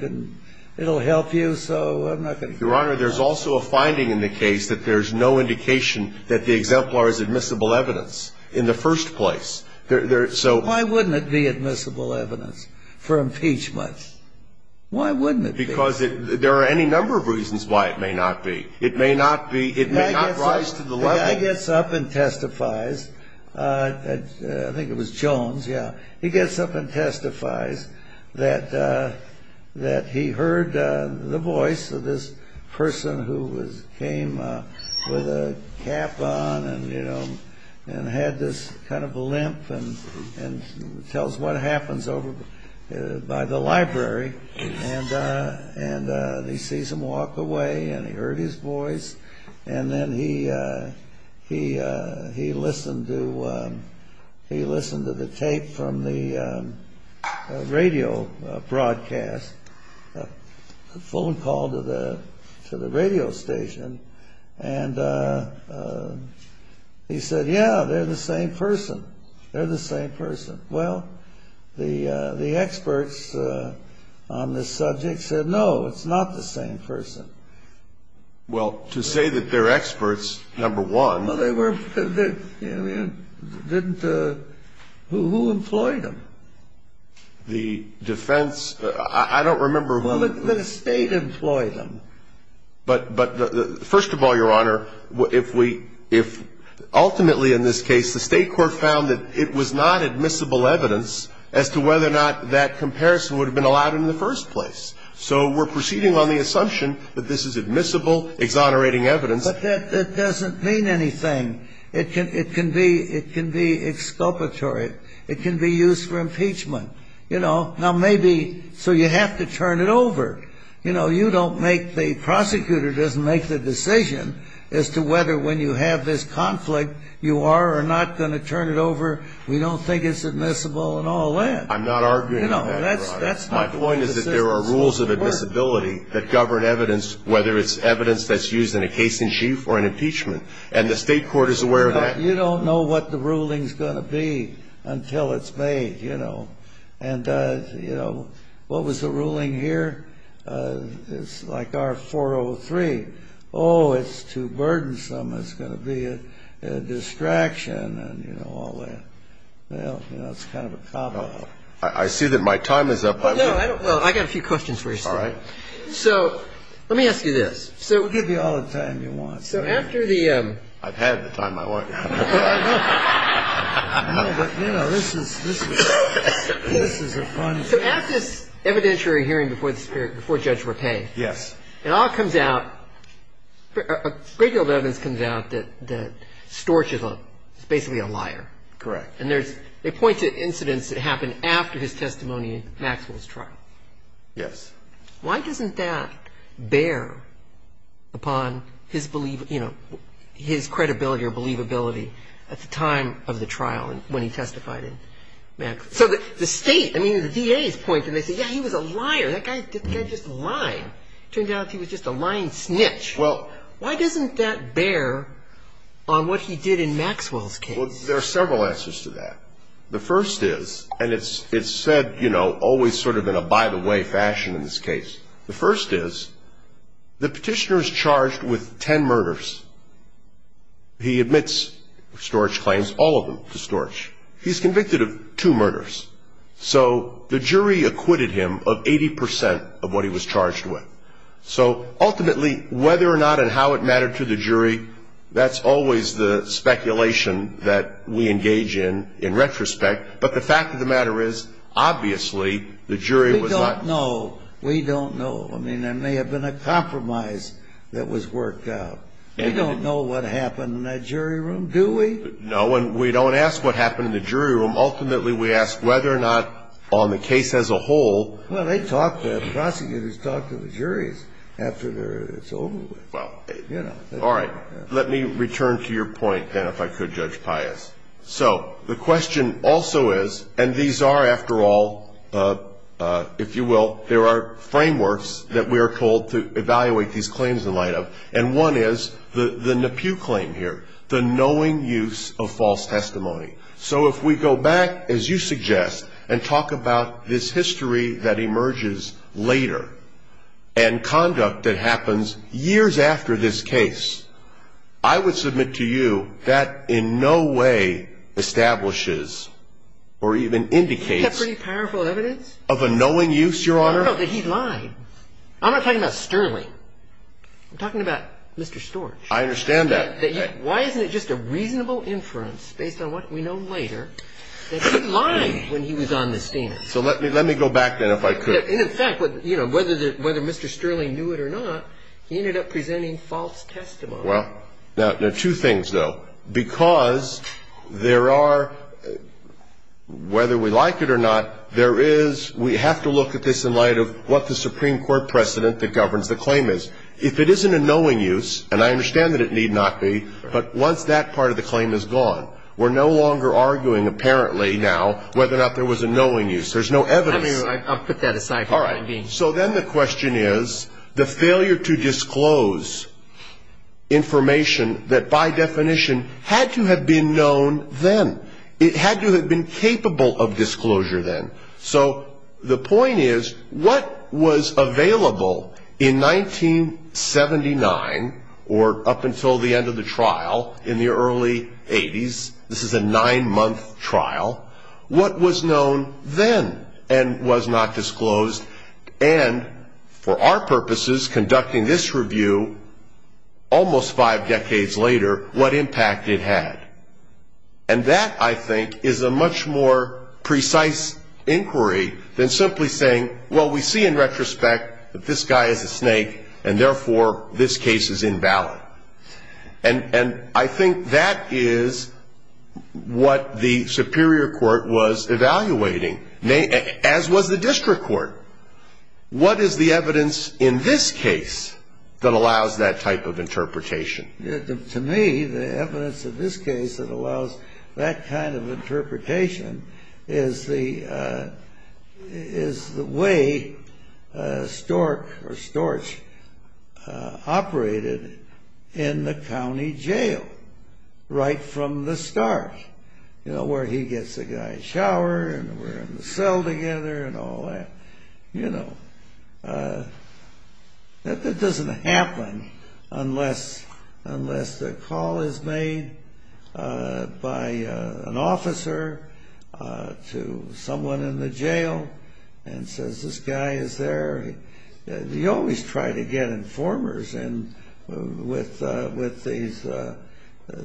will help you, so I'm not going to... Your Honor, there's also a finding in the case that there's no indication that the exemplar is admissible evidence in the first place. So... Why wouldn't it be admissible evidence for impeachment? Why wouldn't it be? Because there are any number of reasons why it may not be. It may not rise to the level... I think it was Jones, yeah. He gets up and testifies that he heard the voice of this person who came with a cap on and, you know, and had this kind of a limp and tells what happens over by the library. And he sees him walk away and he heard his voice. And then he listened to the tape from the radio broadcast, a phone call to the radio station, and he said, yeah, they're the same person. They're the same person. Well, the experts on this subject said, no, it's not the same person. Well, to say that they're experts, number one... Well, they were... Didn't... Who employed them? The defense... I don't remember who... Well, the state employed them. But first of all, Your Honor, if we... If ultimately in this case the state court found that it was not admissible evidence as to whether or not that comparison would have been allowed in the first place. So we're proceeding on the assumption that this is admissible, exonerating evidence. But that doesn't mean anything. It can be exculpatory. It can be used for impeachment. You know, now maybe... So you have to turn it over. You know, you don't make... The prosecutor doesn't make the decision as to whether when you have this conflict, you are or are not going to turn it over. I'm not arguing that, Your Honor. My point is that there are rules of admissibility that govern evidence, whether it's evidence that's used in a case-in-chief or an impeachment. And the state court is aware of that. You don't know what the ruling's going to be until it's made, you know. And, you know, what was the ruling here? It's like our 403. Oh, it's too burdensome. It's going to be a distraction and, you know, all that. Well, you know, it's kind of a cobbler. I see that my time is up. Well, I've got a few questions for you, sir. All right. So let me ask you this. We'll give you all the time you want. So after the... I've had the time I want. I know. But, you know, this is a fun... So after this evidentiary hearing before Judge Rappe, it all comes out, a great deal of evidence comes out that Storch is basically a liar. Correct. And there's... They point to incidents that happened after his testimony in Maxwell's trial. Yes. Why doesn't that bear upon his, you know, his credibility or believability at the time of the trial and when he testified in Maxwell's? So the state, I mean, the DA's point, and they say, yeah, he was a liar. That guy just lied. It turned out he was just a lying snitch. Well... Why doesn't that bear on what he did in Maxwell's case? Well, there are several answers to that. The first is, and it's said, you know, always sort of in a by-the-way fashion in this case, the first is the petitioner is charged with ten murders. He admits, Storch claims, all of them to Storch. He's convicted of two murders. So the jury acquitted him of 80% of what he was charged with. So ultimately, whether or not and how it mattered to the jury, that's always the speculation that we engage in in retrospect. But the fact of the matter is, obviously, the jury was not... We don't know. We don't know. I mean, there may have been a compromise that was worked out. We don't know what happened in that jury room, do we? No, and we don't ask what happened in the jury room. Ultimately, we ask whether or not on the case as a whole... Well, the prosecutors talk to the juries after it's over with. All right. Let me return to your point, then, if I could, Judge Pius. So the question also is, and these are, after all, if you will, there are frameworks that we are told to evaluate these claims in light of, and one is the Nepew claim here, the knowing use of false testimony. So if we go back, as you suggest, and talk about this history that emerges later and conduct that happens years after this case, I would submit to you that in no way establishes or even indicates... Is that pretty powerful evidence? Of a knowing use, Your Honor? No, no, that he lied. I'm not talking about Sterling. I'm talking about Mr. Storch. I understand that. Why isn't it just a reasonable inference, based on what we know later, that he lied when he was on the stand? So let me go back, then, if I could. And, in fact, whether Mr. Sterling knew it or not, he ended up presenting false testimony. Well, now, there are two things, though. Because there are, whether we like it or not, there is, we have to look at this in light of what the Supreme Court precedent that governs the claim is. If it isn't a knowing use, and I understand that it need not be, but once that part of the claim is gone, we're no longer arguing, apparently, now, whether or not there was a knowing use. There's no evidence. I mean, I'll put that aside for the time being. All right. So then the question is the failure to disclose information that, by definition, had to have been known then. It had to have been capable of disclosure then. So the point is, what was available in 1979, or up until the end of the trial in the early 80s, this is a nine-month trial, what was known then and was not disclosed, and for our purposes, conducting this review almost five decades later, what impact it had? And that, I think, is a much more precise inquiry than simply saying, well, we see in retrospect that this guy is a snake, and therefore, this case is invalid. And I think that is what the superior court was evaluating, as was the district court. What is the evidence in this case that allows that type of interpretation? To me, the evidence in this case that allows that kind of interpretation is the way Stork or Storch operated in the county jail right from the start, you know, where he gets the guy a shower and we're in the cell together and all that. You know, that doesn't happen unless the call is made by an officer to someone in the jail and says, this guy is there. You always try to get informers in with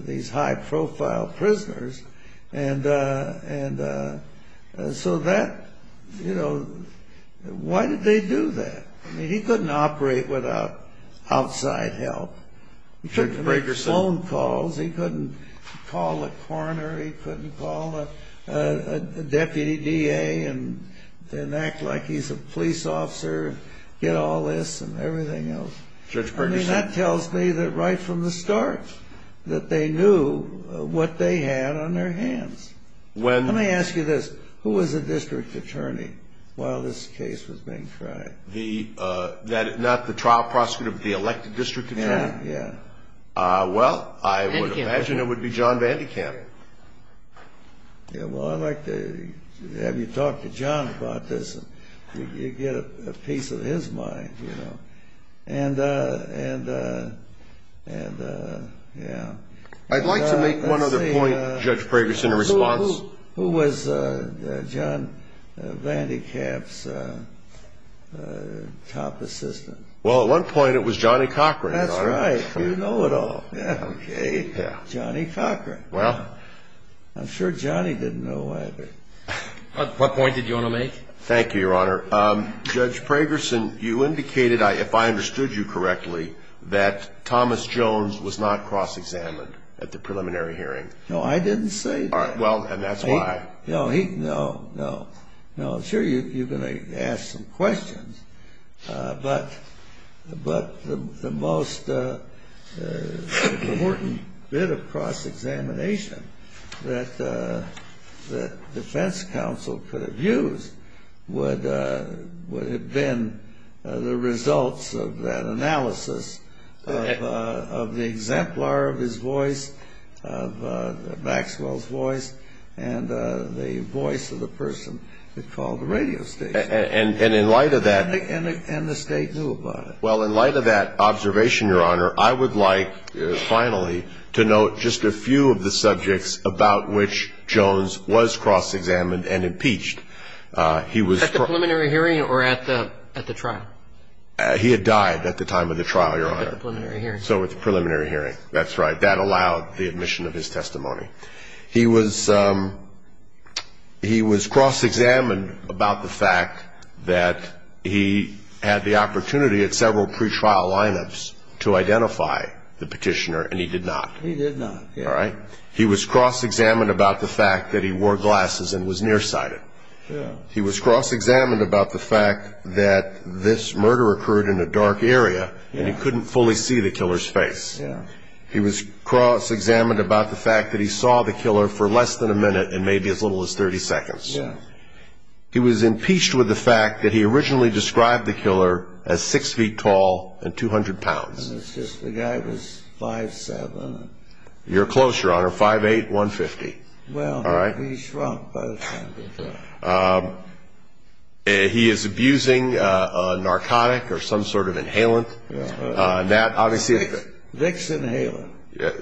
these high-profile prisoners. And so that, you know, why did they do that? I mean, he couldn't operate without outside help. He couldn't make phone calls. He couldn't call a coroner. He couldn't call a deputy DA and act like he's a police officer, get all this and everything else. I mean, that tells me that right from the start that they knew what they had on their hands. Let me ask you this. Who was the district attorney while this case was being tried? Not the trial prosecutor, but the elected district attorney? Yeah, yeah. Well, I would imagine it would be John Vandekamp. Yeah, well, I'd like to have you talk to John about this. You'd get a piece of his mind, you know. And, yeah. I'd like to make one other point, Judge Pragerson, in response. Who was John Vandekamp's top assistant? Well, at one point it was Johnny Cochran, Your Honor. That's right. You know it all. Yeah, okay. Johnny Cochran. Well. I'm sure Johnny didn't know either. What point did you want to make? Thank you, Your Honor. Judge Pragerson, you indicated, if I understood you correctly, that Thomas Jones was not cross-examined at the preliminary hearing. No, I didn't say that. Well, and that's why. No, no. No, I'm sure you're going to ask some questions. But the most important bit of cross-examination that the defense counsel could have used would have been the results of that analysis of the exemplar of his voice, of Maxwell's voice, and the voice of the person that called the radio station. And the state knew about it. Well, in light of that observation, Your Honor, I would like, finally, to note just a few of the subjects about which Jones was cross-examined and impeached. At the preliminary hearing or at the trial? He had died at the time of the trial, Your Honor. At the preliminary hearing. So at the preliminary hearing. That's right. That allowed the admission of his testimony. He was cross-examined about the fact that he had the opportunity at several pretrial lineups to identify the petitioner, and he did not. He did not. All right? He was cross-examined about the fact that he wore glasses and was nearsighted. He was cross-examined about the fact that this murder occurred in a dark area, and he couldn't fully see the killer's face. He was cross-examined about the fact that he saw the killer for less than a minute and maybe as little as 30 seconds. He was impeached with the fact that he originally described the killer as 6 feet tall and 200 pounds. The guy was 5'7". You're close, Your Honor, 5'8", 150. Well, he shrunk by the time he died. He is abusing a narcotic or some sort of inhalant. Vicks inhalant.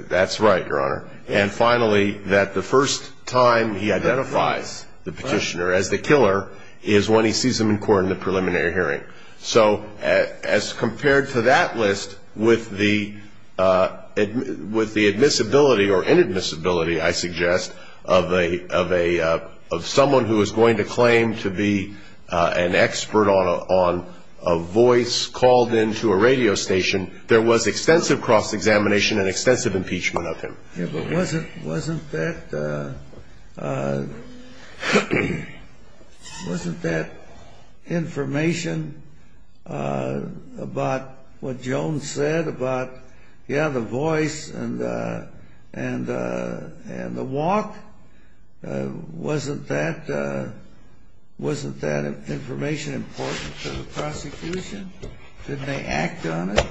That's right, Your Honor. And finally, that the first time he identifies the petitioner as the killer is when he sees him in court in the preliminary hearing. So as compared to that list, with the admissibility or inadmissibility, I suggest, of someone who is going to claim to be an expert on a voice called in to a radio station, there was extensive cross-examination and extensive impeachment of him. Yeah, but wasn't that information about what Jones said about, yeah, the voice and the walk, wasn't that information important to the prosecution? Didn't they act on it?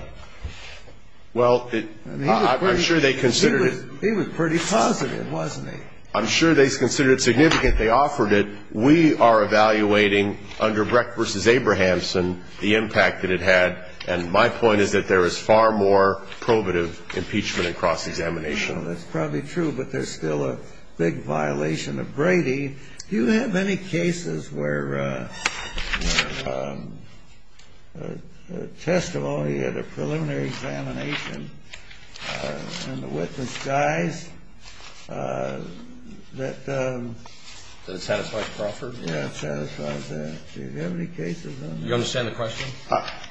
Well, I'm sure they considered it. He was pretty positive, wasn't he? I'm sure they considered it significant. They offered it. We are evaluating under Brecht v. Abrahamson the impact that it had, and my point is that there is far more probative impeachment and cross-examination. That's probably true, but there's still a big violation of Brady. Do you have any cases where testimony at a preliminary examination and the witness dies that satisfied Crawford? Yeah, it satisfies that. Do you have any cases on that? Do you understand the question?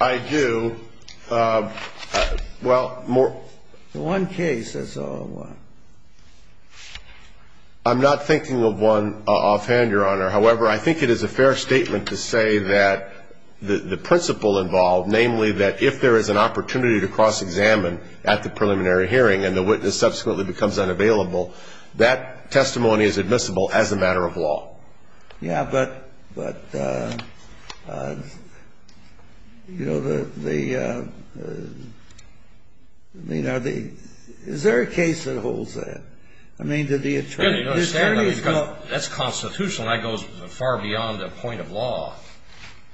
I do. Well, more. One case, that's all. I'm not thinking of one offhand, Your Honor. However, I think it is a fair statement to say that the principle involved, namely, that if there is an opportunity to cross-examine at the preliminary hearing and the witness subsequently becomes unavailable, that testimony is admissible as a matter of law. Yeah, but, you know, is there a case that holds that? I mean, to the attorney. That's constitutional. That goes far beyond a point of law.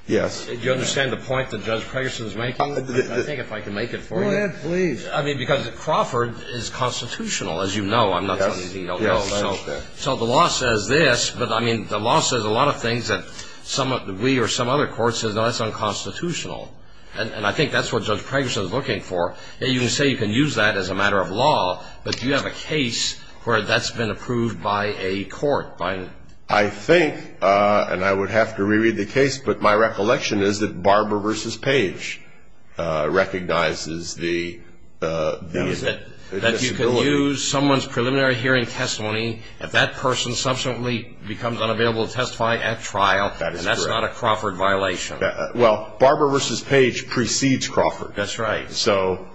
Yes. Do you understand the point that Judge Preggerson is making? I think if I can make it for you. Go ahead, please. I mean, because Crawford is constitutional, as you know. I'm not saying he's illegal. Yes, I understand. So the law says this, but, I mean, the law says a lot of things that we or some other court says, no, that's unconstitutional. And I think that's what Judge Preggerson is looking for. You can say you can use that as a matter of law, but do you have a case where that's been approved by a court? I think, and I would have to reread the case, but my recollection is that Barber v. Page recognizes the disability. That you can use someone's preliminary hearing testimony if that person subsequently becomes unavailable to testify at trial. That is correct. And that's not a Crawford violation. Well, Barber v. Page precedes Crawford. That's right. So,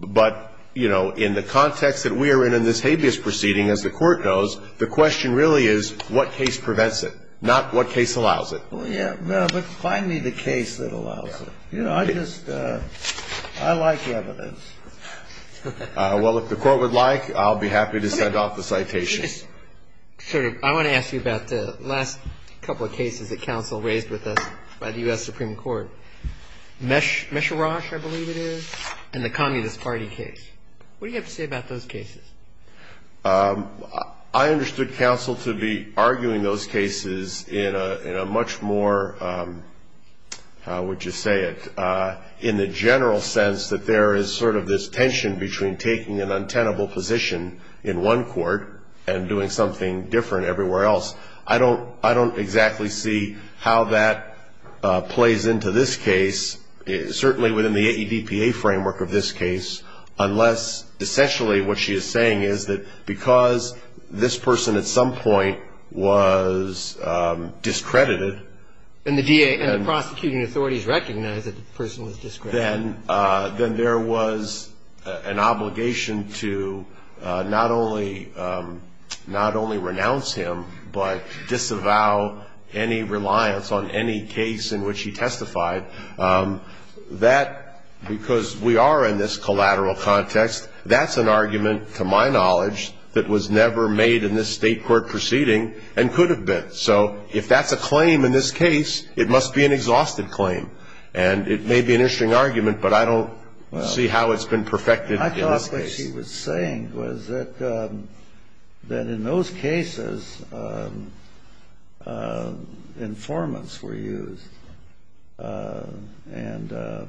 but, you know, in the context that we are in in this habeas proceeding, as the court knows, the question really is what case prevents it, not what case allows it. Well, yeah, but find me the case that allows it. You know, I just, I like evidence. Well, if the court would like, I'll be happy to send off the citations. Sir, I want to ask you about the last couple of cases that counsel raised with us by the U.S. Supreme Court. Meshirash, I believe it is, and the Communist Party case. What do you have to say about those cases? I understood counsel to be arguing those cases in a much more, how would you say it, in the general sense that there is sort of this tension between taking an untenable position in one court and doing something different everywhere else. I don't exactly see how that plays into this case, certainly within the AEDPA framework of this case, unless essentially what she is saying is that because this person at some point was discredited. And the DA and the prosecuting authorities recognized that the person was discredited. Then there was an obligation to not only renounce him, but disavow any reliance on any case in which he testified. That, because we are in this collateral context, that's an argument, to my knowledge, that was never made in this State court proceeding and could have been. So if that's a claim in this case, it must be an exhausted claim. And it may be an interesting argument, but I don't see how it's been perfected in this case. I thought what she was saying was that in those cases informants were used. And the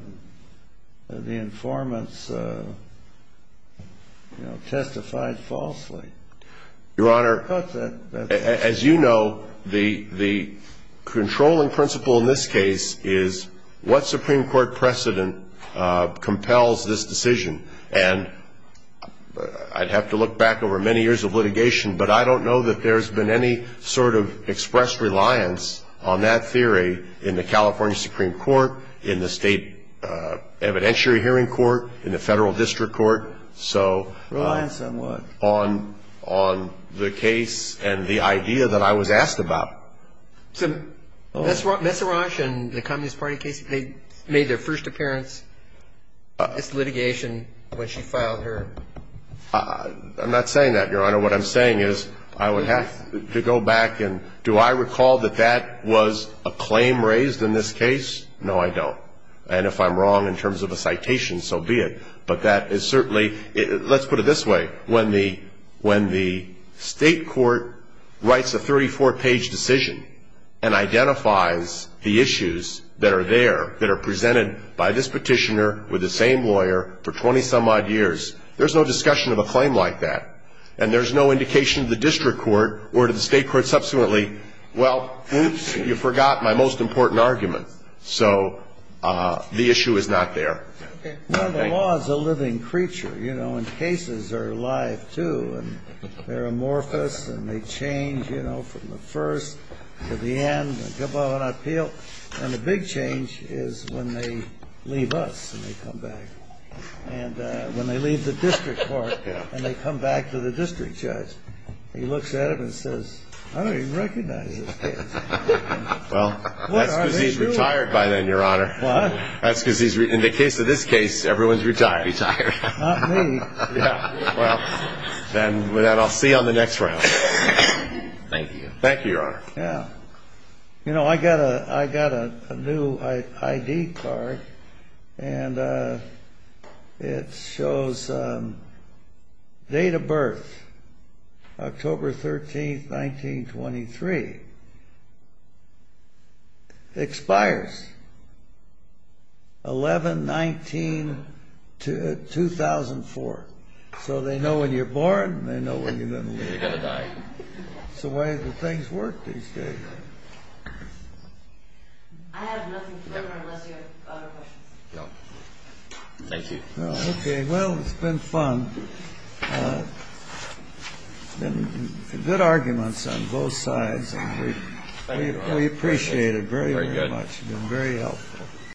informants testified falsely. Your Honor, as you know, the controlling principle in this case is what Supreme Court precedent compels this decision. And I'd have to look back over many years of litigation, but I don't know that there's been any sort of expressed reliance on that theory in the California Supreme Court, in the State evidentiary hearing court, in the Federal District Court. Reliance on what? Reliance on the case and the idea that I was asked about. So Messerage and the Communist Party case, they made their first appearance in this litigation when she filed her. I'm not saying that, Your Honor. What I'm saying is I would have to go back and do I recall that that was a claim raised in this case? No, I don't. And if I'm wrong in terms of a citation, so be it. But that is certainly, let's put it this way. When the State court writes a 34-page decision and identifies the issues that are there, that are presented by this petitioner with the same lawyer for 20-some-odd years, there's no discussion of a claim like that. And there's no indication to the District Court or to the State court subsequently, well, you forgot my most important argument. So the issue is not there. Well, the law is a living creature. You know, and cases are alive, too. And they're amorphous and they change, you know, from the first to the end. And the big change is when they leave us and they come back. And when they leave the District Court and they come back to the District Judge, he looks at them and says, I don't even recognize this case. Well, that's because he's retired by then, Your Honor. What? That's because in the case of this case, everyone's retired. Not me. Yeah. Well, then with that, I'll see you on the next round. Thank you. Thank you, Your Honor. Yeah. You know, I got a new I.D. card. And it shows date of birth, October 13, 1923. Expires 11-19-2004. So they know when you're born and they know when you're going to leave. That's the way that things work these days. I have nothing further unless you have other questions. No. Thank you. Okay. Well, it's been fun. Good arguments on both sides. We appreciate it very, very much. Very good. You've been very helpful.